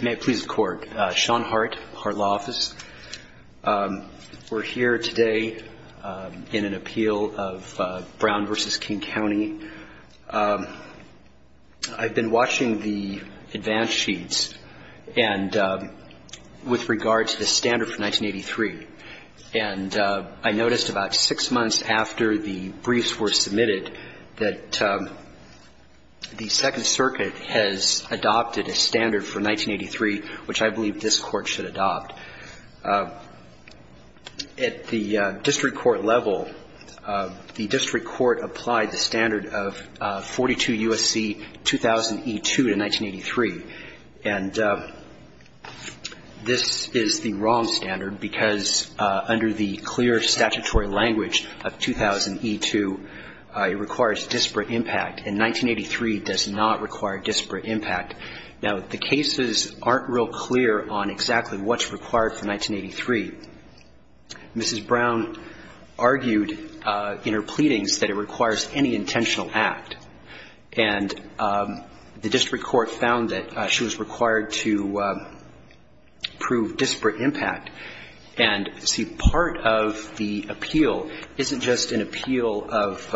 May it please the Court. Sean Hart, Hart Law Office. We're here today in an appeal of Brown v. King County. I've been watching the advance sheets. And with regard to the standard for 1983, and I noticed about six months after the briefs were submitted that the Second Circuit has adopted a standard for 1983, which I believe this Court should adopt. At the district court level, the district court applied the standard of 42 U.S.C. 2000e2 to 1983. And this is the wrong standard because under the clear statutory language of 2000e2, it requires disparate impact. And 1983 does not require disparate impact. Now, the cases aren't real clear on exactly what's required for 1983. Mrs. Brown argued in her pleadings that it requires any intentional act. And the district court found that she was required to prove disparate impact. And, see, part of the appeal isn't just an appeal of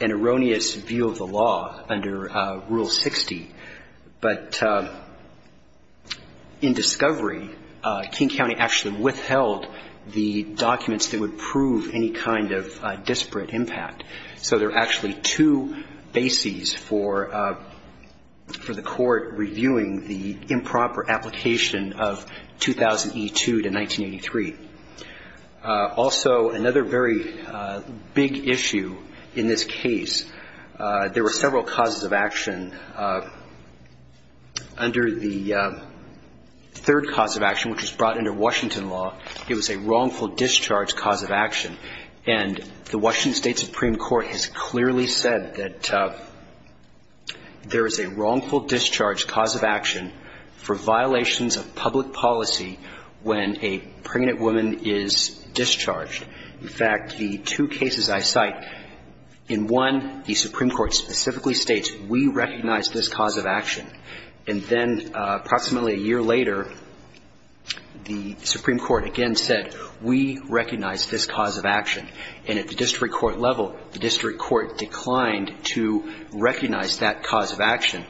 an erroneous view of the law under Rule 60. But in discovery, King County actually withheld the documents that would prove any kind of disparate impact. So there are actually two bases for the Court reviewing the improper application of 2000e2 to 1983. Also, another very big issue in this case, there were several causes of action. Under the third cause of action, which was brought under Washington law, it was a wrongful discharge cause of action. And the Washington State Supreme Court has clearly said that there is a wrongful discharge cause of action for violations of public policy when a pregnant woman is discharged. In fact, the two cases I cite, in one, the Supreme Court specifically states, we recognize this cause of action. And then approximately a year later, the Supreme Court again said, we recognize this cause of action. And at the district court level, the district court declined to recognize that cause of action.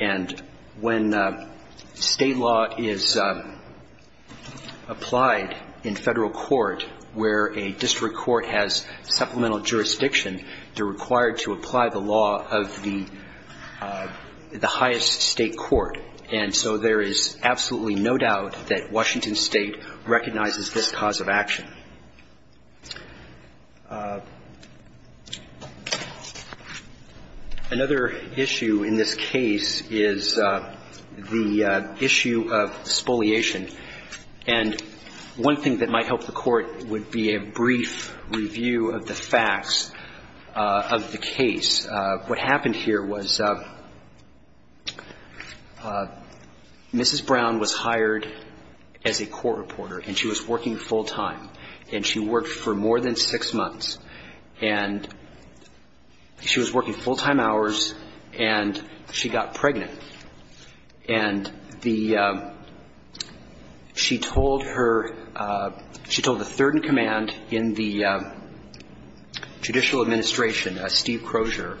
And when State law is applied in Federal court where a district court has supplemental jurisdiction, they're required to apply the law of the highest State court. And so there is absolutely no doubt that Washington State recognizes this cause of action. Another issue in this case is the issue of spoliation. And one thing that might help the Court would be a brief review of the facts of the case. What happened here was Mrs. Brown was hired as a court reporter, and she was working full-time. And she worked for more than six months. And she was working full-time hours, and she got pregnant. And the ‑‑ she told her ‑‑ she told the third-in-command in the judicial administration, Steve Crozier,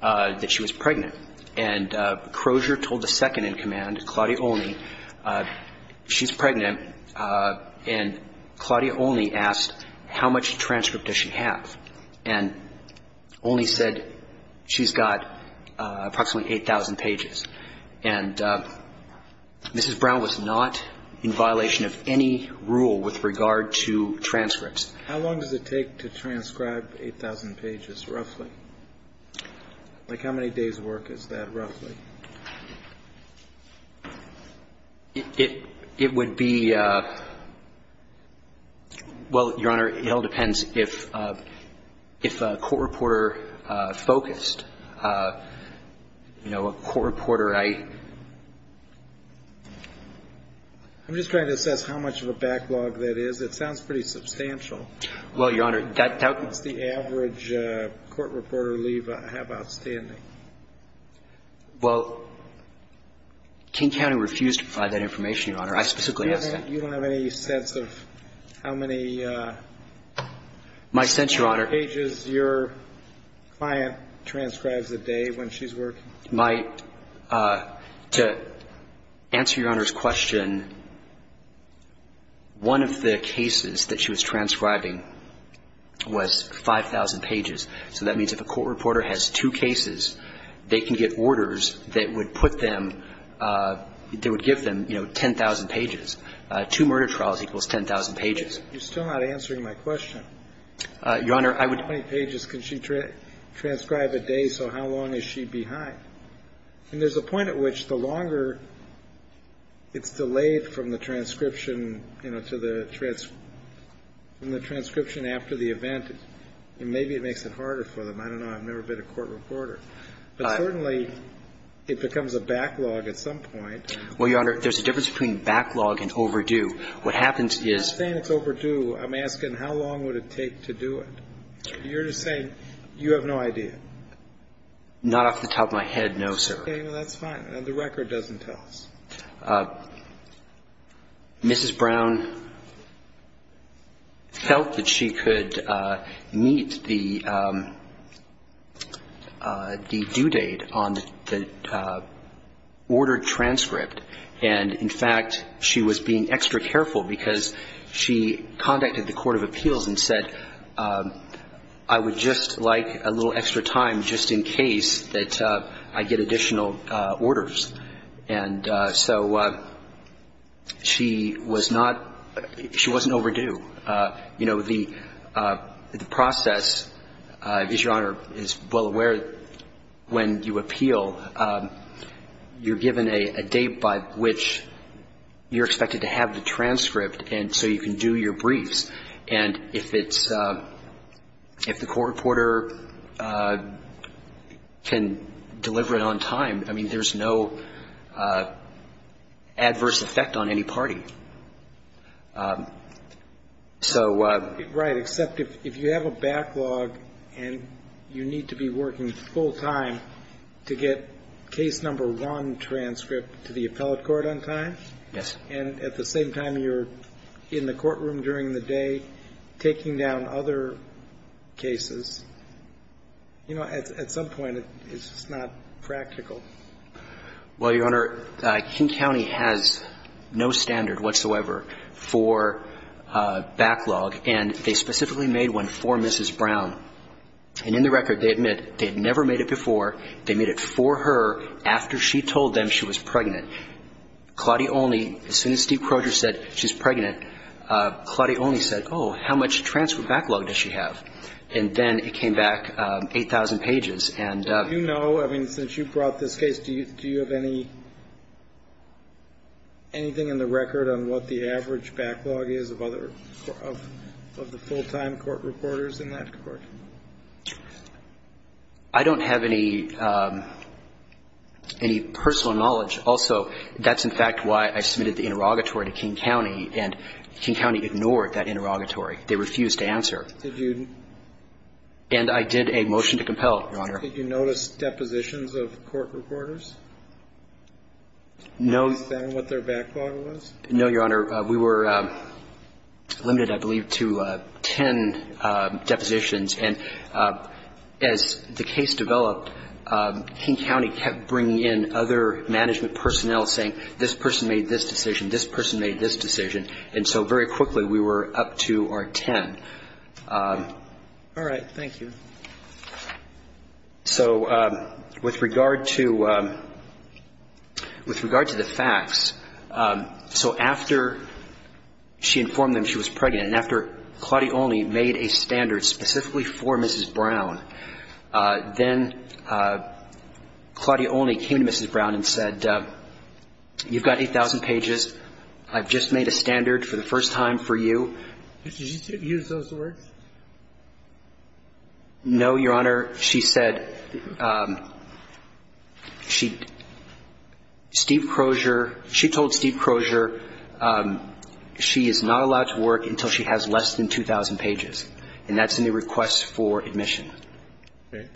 that she was pregnant. And Crozier told the second-in-command, Claudia Olney, she's pregnant. And Claudia Olney asked, how much transcript does she have? And Olney said, she's got approximately 8,000 pages. And Mrs. Brown was not in violation of any rule with regard to transcripts. How long does it take to transcribe 8,000 pages, roughly? Like how many days' work is that, roughly? It would be ‑‑ well, Your Honor, it all depends if a court reporter focused. You know, a court reporter, I ‑‑ I'm just trying to assess how much of a backlog that is. It sounds pretty substantial. Well, Your Honor, that ‑‑ That's the average court reporter leave I have outstanding. Well, King County refused to provide that information, Your Honor. I specifically asked that. You don't have any sense of how many pages your client transcribes a day when she's working? My ‑‑ to answer Your Honor's question, one of the cases that she was transcribing was 5,000 pages. So that means if a court reporter has two cases, they can get orders that would put them, that would give them, you know, 10,000 pages. Two murder trials equals 10,000 pages. You're still not answering my question. Your Honor, I would ‑‑ How many pages can she transcribe a day, so how long is she behind? And there's a point at which the longer it's delayed from the transcription, you know, to the transcription after the event, maybe it makes it harder for them. I don't know. I've never been a court reporter. But certainly it becomes a backlog at some point. Well, Your Honor, there's a difference between backlog and overdue. What happens is ‑‑ I'm not saying it's overdue. I'm asking how long would it take to do it. You're just saying you have no idea. Not off the top of my head, no, sir. Okay, well, that's fine. The record doesn't tell us. Mrs. Brown felt that she could meet the due date on the ordered transcript. And, in fact, she was being extra careful because she contacted the Court of Appeals and said, I would just like a little extra time just in case that I get additional orders. And so she was not ‑‑ she wasn't overdue. You know, the process, as Your Honor is well aware, when you appeal, you're given a date by which you're expected to have the transcript and so you can do your briefs. And if it's ‑‑ if the court reporter can deliver it on time, I mean, there's no adverse effect on any party. So ‑‑ Right, except if you have a backlog and you need to be working full time to get case number one transcript to the appellate court on time. Yes. And at the same time you're in the courtroom during the day taking down other cases. You know, at some point it's just not practical. Well, Your Honor, King County has no standard whatsoever for backlog and they specifically made one for Mrs. Brown. And in the record they admit they had never made it before. They made it for her after she told them she was pregnant. Claudia Olney, as soon as Steve Proger said she's pregnant, Claudia Olney said, oh, how much transfer backlog does she have? And then it came back 8,000 pages and ‑‑ Do you know, I mean, since you brought this case, do you have anything in the record on what the average backlog is of the full time court reporters in that court? I don't have any personal knowledge. Also, that's in fact why I submitted the interrogatory to King County and King County ignored that interrogatory. They refused to answer. Did you ‑‑ And I did a motion to compel, Your Honor. Did you notice depositions of court reporters? No. Did you understand what their backlog was? No, Your Honor. We were limited, I believe, to ten depositions. And as the case developed, King County kept bringing in other management personnel saying, this person made this decision, this person made this decision. And so very quickly we were up to our ten. All right. Thank you. So with regard to ‑‑ with regard to the facts, so after she informed them she was pregnant and after Claudia Olney made a standard specifically for Mrs. Brown, then Claudia Olney came to Mrs. Brown and said, you've got 8,000 pages, I've just made a standard for the first time for you. Did she use those words? No, Your Honor. She said ‑‑ she ‑‑ Steve Crozier, she told Steve Crozier she is not allowed to work until she has less than 2,000 pages. And that's in the request for admission.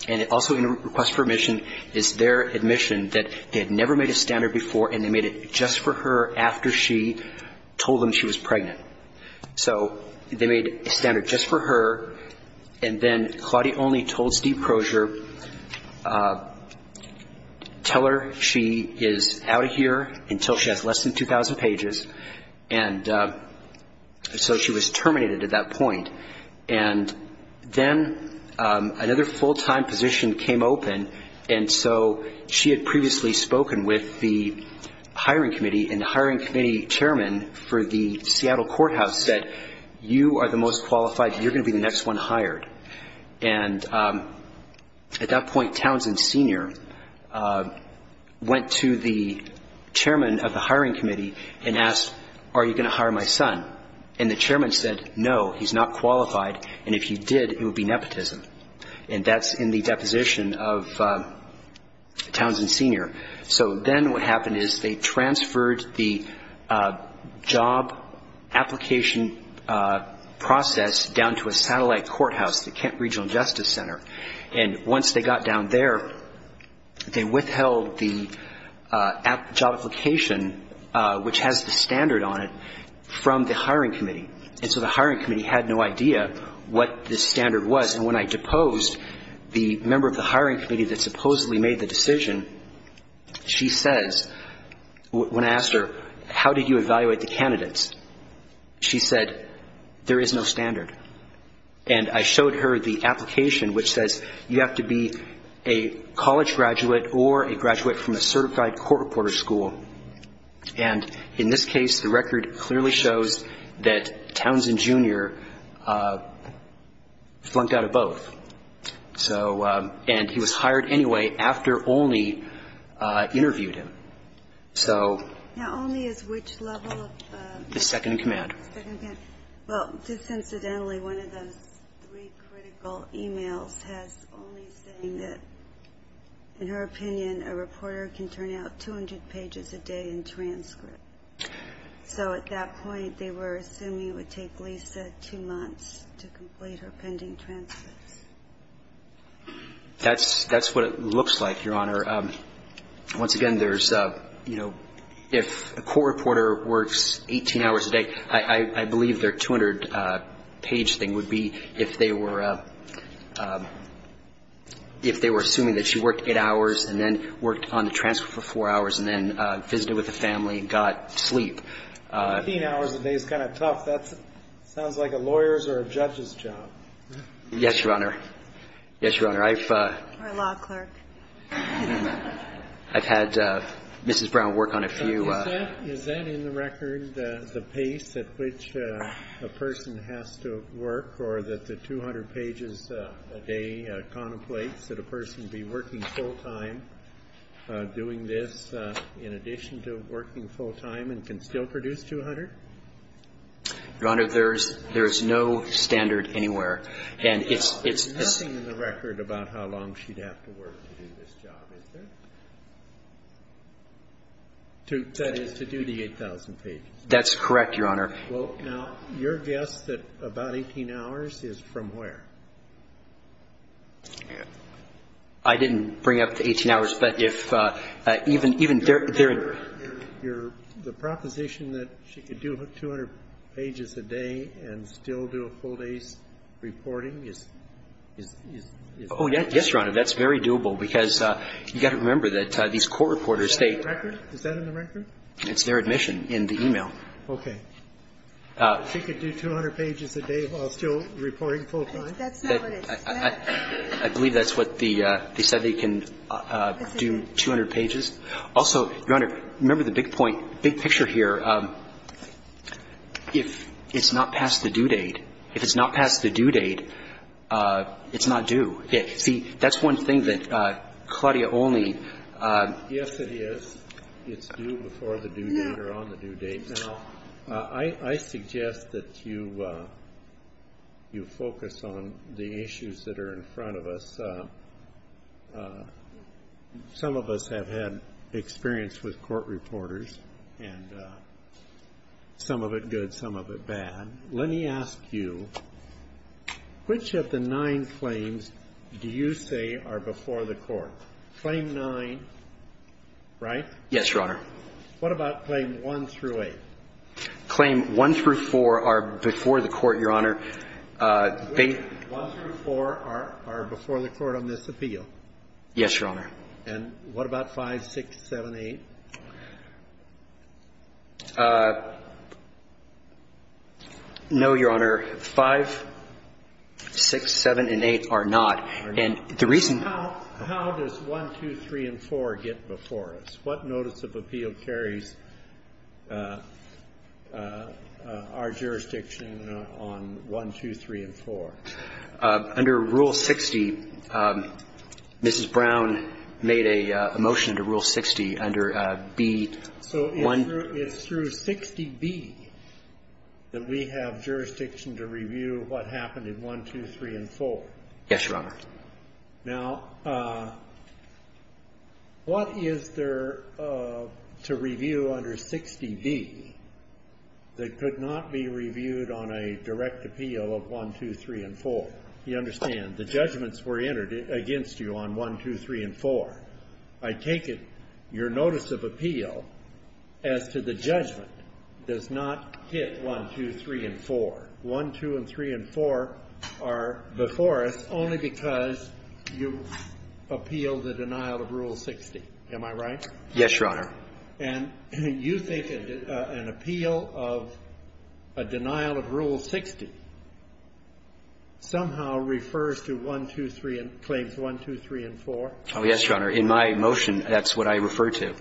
And also in the request for admission is their admission that they had never made a standard before and they made it just for her after she told them she was pregnant. So they made a standard just for her and then Claudia Olney told Steve Crozier, tell her she is out of here until she has less than 2,000 pages. And so she was terminated at that point. And then another full‑time position came open and so she had previously spoken with the hiring committee and the hiring committee chairman for the Seattle courthouse said, you are the most qualified, you're going to be the next one hired. And at that point Townsend Sr. went to the chairman of the hiring committee and asked, are you going to hire my son? And the chairman said, no, he's not qualified, and if he did, it would be nepotism. And that's in the deposition of Townsend Sr. So then what happened is they transferred the job application process down to a satellite courthouse, the Kent Regional Justice Center. And once they got down there, they withheld the job application, which has the standard on it, from the hiring committee. And so the hiring committee had no idea what this standard was. And when I deposed the member of the hiring committee that supposedly made the decision, she says, when I asked her, how did you evaluate the candidates? She said, there is no standard. And I showed her the application, which says you have to be a college graduate or a graduate from a certified court reporter school. And in this case, the record clearly shows that Townsend Jr. flunked out of both. And he was hired anyway after Olney interviewed him. Now, Olney is which level? The second in command. Well, just incidentally, one of those three critical e-mails has Olney saying that, in her opinion, a reporter can turn out 200 pages a day in transcripts. So at that point, they were assuming it would take Lisa two months to complete her pending transcripts. That's what it looks like, Your Honor. Once again, there's, you know, if a court reporter works 18 hours a day, I believe their 200-page thing would be if they were assuming that she worked eight hours and then worked on the transcript for four hours and then visited with the family and got sleep. Eighteen hours a day is kind of tough. That sounds like a lawyer's or a judge's job. Yes, Your Honor. Yes, Your Honor. Or a law clerk. I've had Mrs. Brown work on a few. Is that in the record the pace at which a person has to work or that the 200 pages a day contemplates that a person be working full-time doing this in addition to working full-time and can still produce 200? Your Honor, there's no standard anywhere. And it's the same. There's nothing in the record about how long she'd have to work to do this job, is there? That is, to do the 8,000 pages. That's correct, Your Honor. Well, now, your guess that about 18 hours is from where? I didn't bring up the 18 hours, but if even their ---- The proposition that she could do 200 pages a day and still do a full day's reporting is ---- Oh, yes, Your Honor. That's very doable because you've got to remember that these court reporters say ---- Is that in the record? Is that in the record? It's their admission in the e-mail. Okay. She could do 200 pages a day while still reporting full-time? That's not what it says. I believe that's what the ---- they said they can do 200 pages. Also, Your Honor, remember the big point, big picture here. If it's not past the due date, if it's not past the due date, it's not due. See, that's one thing that Claudia only ---- Yes, it is. It's due before the due date or on the due date. Now, I suggest that you focus on the issues that are in front of us. Some of us have had experience with court reporters, and some of it good, some of it bad. And let me ask you, which of the nine claims do you say are before the Court? Claim 9, right? Yes, Your Honor. What about Claim 1 through 8? Claim 1 through 4 are before the Court, Your Honor. Claim 1 through 4 are before the Court on this appeal? Yes, Your Honor. And what about 5, 6, 7, 8? No, Your Honor. 5, 6, 7, and 8 are not. And the reason ---- How does 1, 2, 3, and 4 get before us? What notice of appeal carries our jurisdiction on 1, 2, 3, and 4? Under Rule 60, Mrs. Brown made a motion to Rule 60 under B. So it's through 60B that we have jurisdiction to review what happened in 1, 2, 3, and 4? Yes, Your Honor. Now, what is there to review under 60B that could not be reviewed on a direct appeal of 1, 2, 3, and 4? You understand, the judgments were entered against you on 1, 2, 3, and 4. I take it your notice of appeal as to the judgment does not hit 1, 2, 3, and 4. 1, 2, and 3, and 4 are before us only because you appealed the denial of Rule 60. Am I right? Yes, Your Honor. And you think an appeal of a denial of Rule 60 somehow refers to 1, 2, 3, and ---- claims 1, 2, 3, and 4? Oh, yes, Your Honor. In my motion, that's what I refer to.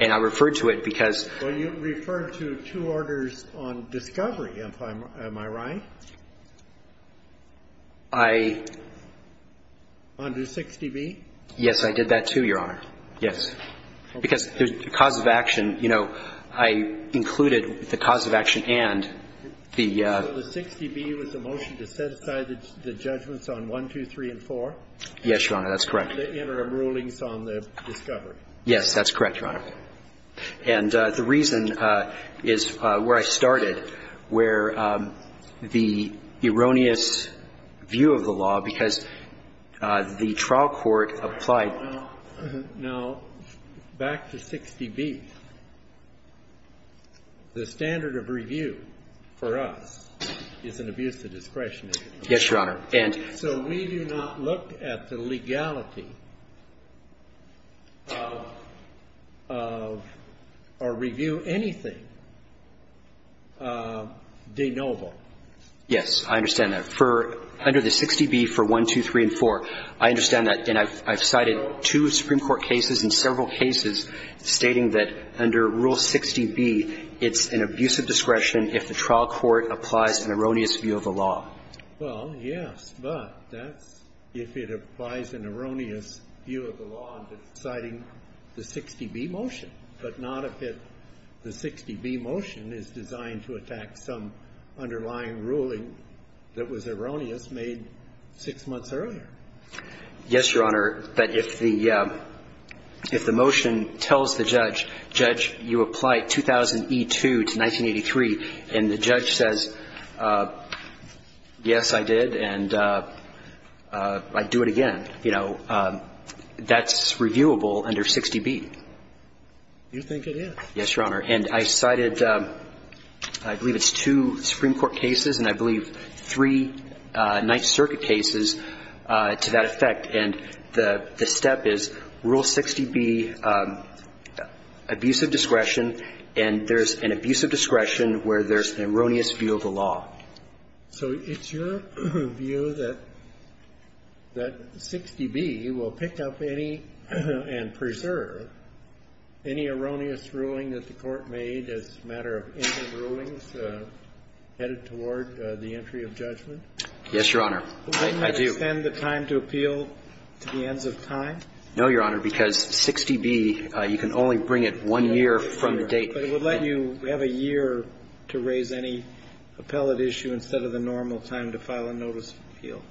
And I refer to it because ---- Well, you referred to two orders on discovery. Am I right? I ---- Under 60B? Yes, I did that, too, Your Honor. Yes. Because the cause of action, you know, I included the cause of action and the ---- So the 60B was the motion to set aside the judgments on 1, 2, 3, and 4? Yes, Your Honor. That's correct. The interim rulings on the discovery. Yes, that's correct, Your Honor. And the reason is where I started, where the erroneous view of the law, because the trial court applied ---- Now, back to 60B. The standard of review for us is an abuse of discretion. Yes, Your Honor. So we do not look at the legality of or review anything de novo. Yes, I understand that. Under the 60B for 1, 2, 3, and 4, I understand that. And I've cited two Supreme Court cases and several cases stating that under Rule 60B, it's an abuse of discretion if the trial court applies an erroneous view of the law. Well, yes, but that's if it applies an erroneous view of the law and it's citing the 60B motion, but not if it ---- the 60B motion is designed to attack some underlying ruling that was erroneous made six months earlier. Yes, Your Honor. But if the motion tells the judge, Judge, you apply 2000e2 to 1983, and the judge says, yes, I did, and I'd do it again, you know, that's reviewable under 60B. You think it is. Yes, Your Honor. And I cited, I believe it's two Supreme Court cases and I believe three Ninth Circuit cases to that effect. And the step is Rule 60B, abuse of discretion, and there's an abuse of discretion where there's an erroneous view of the law. So it's your view that 60B will pick up any and preserve any erroneous ruling that the Court made as a matter of interim rulings headed toward the entry of judgment? Yes, Your Honor. I do. Wouldn't that extend the time to appeal to the ends of time? No, Your Honor, because 60B, you can only bring it one year from the date. But it would let you have a year to raise any appellate issue instead of the normal time to file a notice of appeal?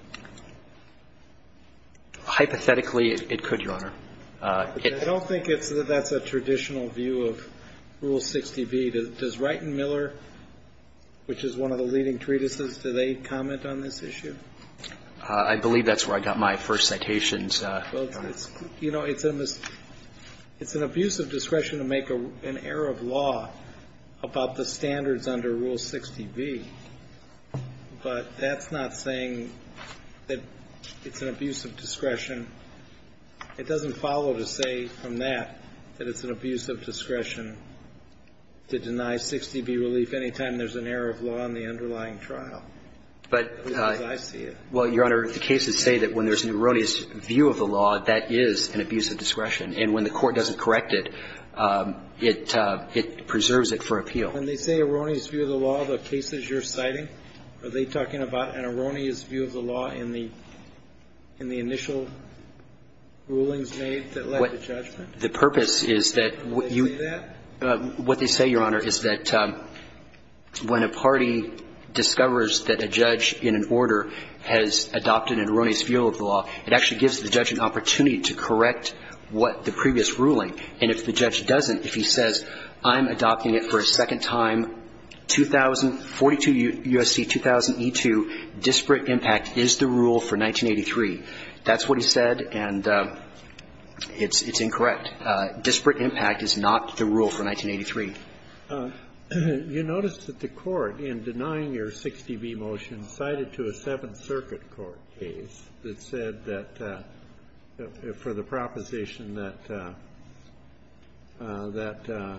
Hypothetically, it could, Your Honor. I don't think that's a traditional view of Rule 60B. Does Wright and Miller, which is one of the leading treatises, do they comment on this issue? I believe that's where I got my first citations. Well, you know, it's an abuse of discretion to make an error of law about the standards under Rule 60B, but that's not saying that it's an abuse of discretion. It doesn't follow to say from that that it's an abuse of discretion to deny 60B relief any time there's an error of law in the underlying trial, at least I see it. Well, Your Honor, the cases say that when there's an erroneous view of the law, that is an abuse of discretion, and when the court doesn't correct it, it preserves it for appeal. When they say erroneous view of the law, the cases you're citing, are they talking about an erroneous view of the law in the initial rulings made that led to judgment? The purpose is that you What they say, Your Honor, is that when a party discovers that a judge in an order has adopted an erroneous view of the law, it actually gives the judge an opportunity to correct what the previous ruling. And if the judge doesn't, if he says, I'm adopting it for a second time, 2000, 42 U.S.C. 2000e2, disparate impact is the rule for 1983. That's what he said, and it's incorrect. Disparate impact is not the rule for 1983. You notice that the Court, in denying your 60B motion, cited to a Seventh Circuit court case that said that for the proposition that,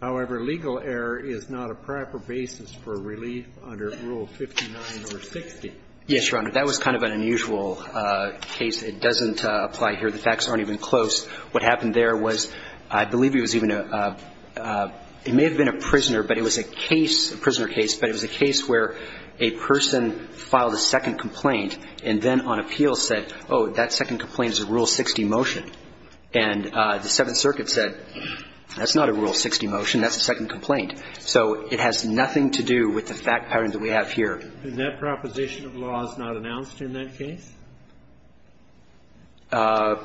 however, legal error is not a proper basis for relief under Rule 59 or 60. Yes, Your Honor. That was kind of an unusual case. It doesn't apply here. The facts aren't even close. What happened there was, I believe it was even a It may have been a prisoner, but it was a case, a prisoner case, but it was a case where a person filed a second complaint and then on appeal said, oh, that second complaint is a Rule 60 motion. And the Seventh Circuit said, that's not a Rule 60 motion. That's a second complaint. So it has nothing to do with the fact pattern that we have here. And that proposition of law is not announced in that case? That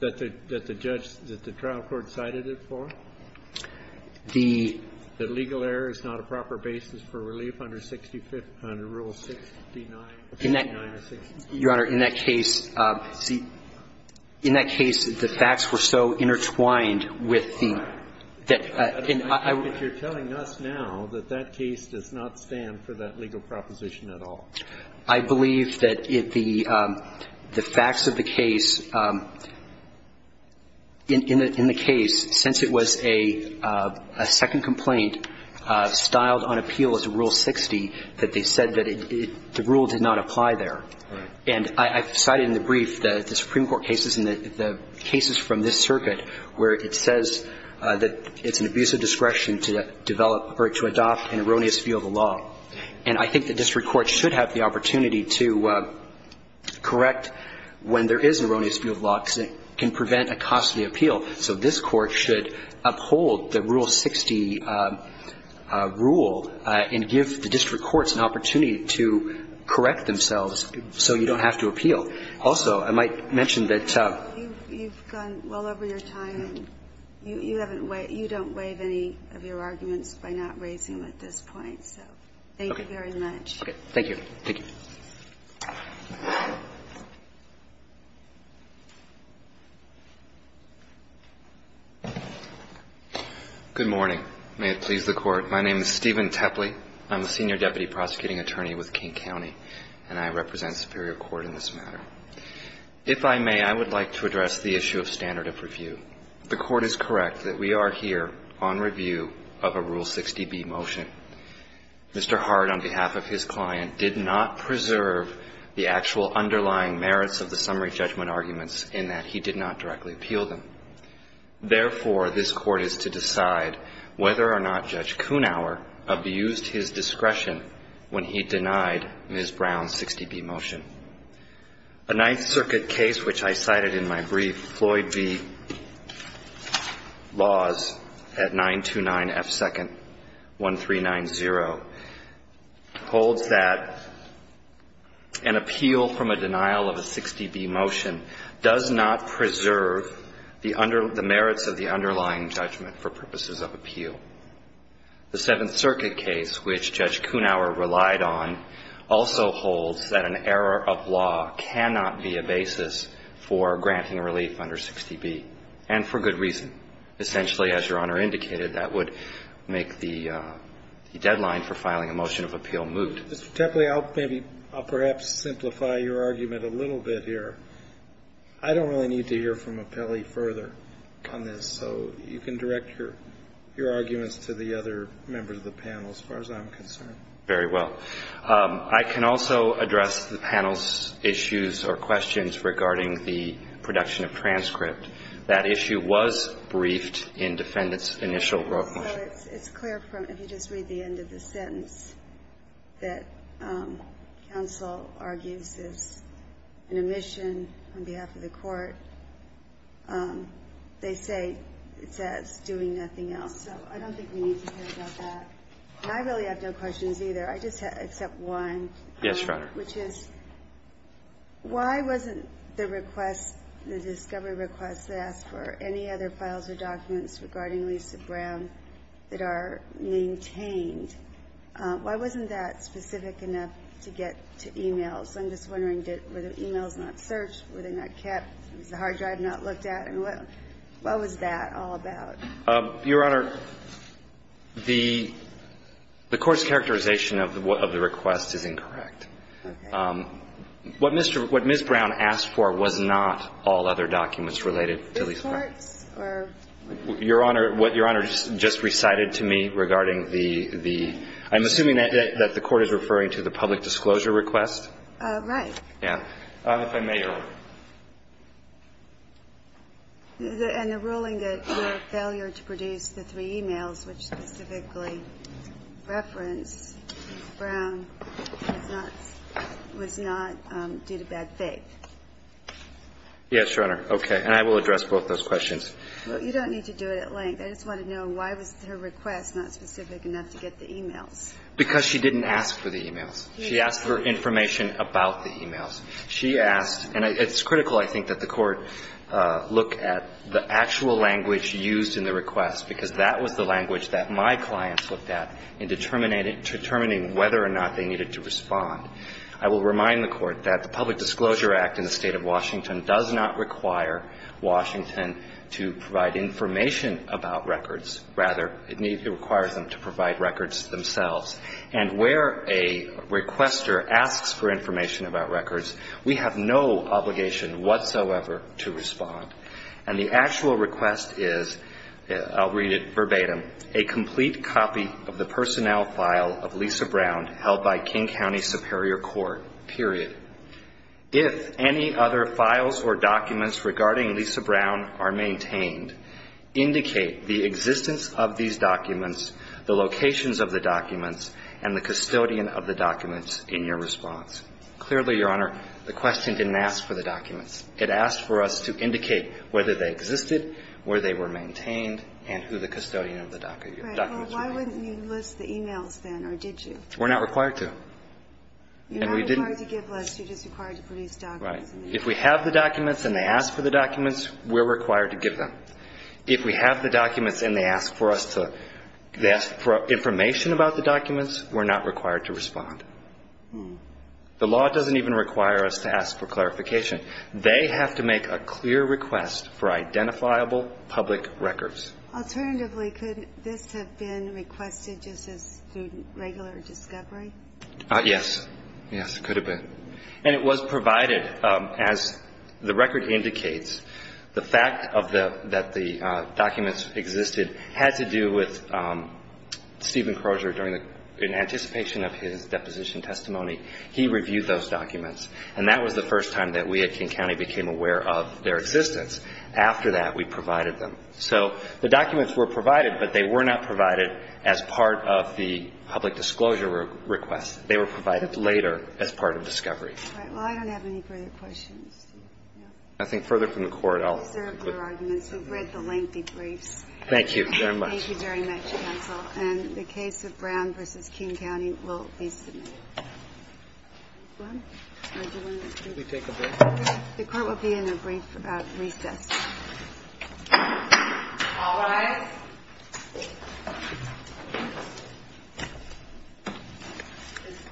the judge, that the trial court cited it for? The legal error is not a proper basis for relief under Rule 69 or 60? Your Honor, in that case, see, in that case, the facts were so intertwined with the, that I would I believe that the facts of the case, in the case, since it was a second complaint styled on appeal as a Rule 60, that they said that the rule did not apply there. And I cited in the brief the Supreme Court cases and the cases from this circuit where it says that it's an abuse of discretion to file a second complaint to adopt an erroneous view of the law. And I think the district court should have the opportunity to correct when there is an erroneous view of the law, because it can prevent a custody appeal. So this Court should uphold the Rule 60 rule and give the district courts an opportunity to correct themselves so you don't have to appeal. Also, I might mention that you've gone well over your time. You haven't, you don't waive any of your arguments by not raising them at this point. So thank you very much. Okay. Thank you. Thank you. Good morning. May it please the Court. My name is Stephen Tepley. I'm the Senior Deputy Prosecuting Attorney with King County, and I represent Superior Court in this matter. If I may, I would like to address the issue of standard of review. The Court is correct that we are here on review of a Rule 60b motion. Mr. Hart, on behalf of his client, did not preserve the actual underlying merits of the summary judgment arguments in that he did not directly appeal them. Therefore, this Court is to decide whether or not Judge Kunauer abused his discretion when he denied Ms. Brown's 60b motion. A Ninth Circuit case, which I cited in my brief, Floyd v. Laws at 929 F. 2nd, 1390, holds that an appeal from a denial of a 60b motion does not preserve the merits of the underlying judgment for purposes of appeal. The Seventh Circuit case, which Judge Kunauer relied on, also holds that an error of law cannot be a basis for granting relief under 60b, and for good reason. Essentially, as Your Honor indicated, that would make the deadline for filing a motion of appeal moot. Mr. Tepley, I'll perhaps simplify your argument a little bit here. I don't really need to hear from Appelli further on this, so you can direct your arguments to the other members of the panel as far as I'm concerned. Very well. I can also address the panel's issues or questions regarding the production of transcript. That issue was briefed in Defendant's initial wrote motion. It's clear from, if you just read the end of the sentence, that counsel argues is an omission on behalf of the Court. They say it says, doing nothing else. So I don't think we need to hear about that. And I really have no questions either. I just have except one. Yes, Your Honor. Which is, why wasn't the request, the discovery request that asked for any other files or documents regarding Lisa Brown that are maintained, why wasn't that specific enough to get to e-mails? I'm just wondering, were the e-mails not searched? Were they not kept? Was the hard drive not looked at? I mean, what was that all about? Your Honor, the Court's characterization of the request is incorrect. Okay. What Ms. Brown asked for was not all other documents related to Lisa Brown. The courts or? Your Honor, what Your Honor just recited to me regarding the, I'm assuming that the Court is referring to the public disclosure request? Right. Yeah. If I may, Your Honor. And the ruling that your failure to produce the three e-mails, which specifically reference Lisa Brown, was not due to bad faith. Yes, Your Honor. Okay. And I will address both those questions. You don't need to do it at length. I just want to know, why was her request not specific enough to get the e-mails? Because she didn't ask for the e-mails. She asked for information about the e-mails. She asked, and it's critical, I think, that the Court look at the actual language used in the request, because that was the language that my clients looked at in determining whether or not they needed to respond. I will remind the Court that the Public Disclosure Act in the State of Washington does not require Washington to provide information about records. Rather, it requires them to provide records themselves. And where a requester asks for information about records, we have no obligation whatsoever to respond. And the actual request is, I'll read it verbatim, a complete copy of the personnel file of Lisa Brown held by King County Superior Court, period. If any other files or documents regarding Lisa Brown are maintained, indicate the existence of these documents, the locations of the documents, and the custodian of the documents in your response. Clearly, Your Honor, the question didn't ask for the documents. It asked for us to indicate whether they existed, where they were maintained, and who the custodian of the documents were. Well, why wouldn't you list the e-mails then, or did you? We're not required to. You're not required to give lists. You're just required to produce documents. Right. If we have the documents and they ask for the documents, we're required to give them. If we have the documents and they ask for information about the documents, we're not required to respond. The law doesn't even require us to ask for clarification. They have to make a clear request for identifiable public records. Alternatively, could this have been requested just as through regular discovery? Yes. Yes, it could have been. And it was provided. As the record indicates, the fact that the documents existed had to do with Stephen Crozier. In anticipation of his deposition testimony, he reviewed those documents, and that was the first time that we at King County became aware of their existence. After that, we provided them. So the documents were provided, but they were not provided as part of the public disclosure request. They were provided later as part of discovery. All right. Well, I don't have any further questions. No? Nothing further from the Court. I'll conclude. We've observed your arguments. We've read the lengthy briefs. Thank you very much. Thank you very much, counsel. And the case of Brown v. King County will be submitted. Go ahead. Would you like me to take a break? The Court will be in a brief about recess. All rise. The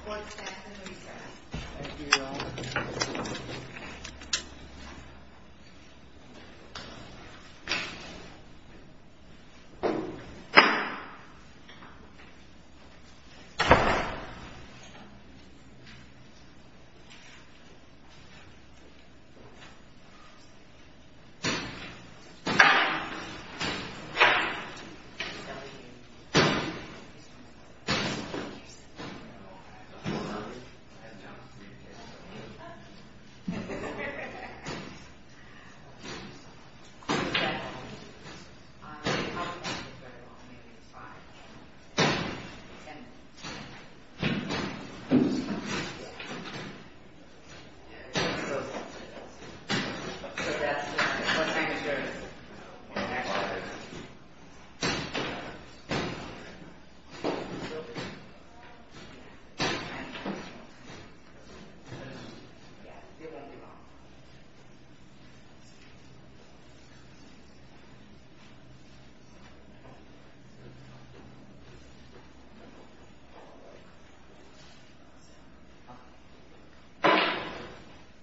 Court is back in recess. Thank you. Thank you.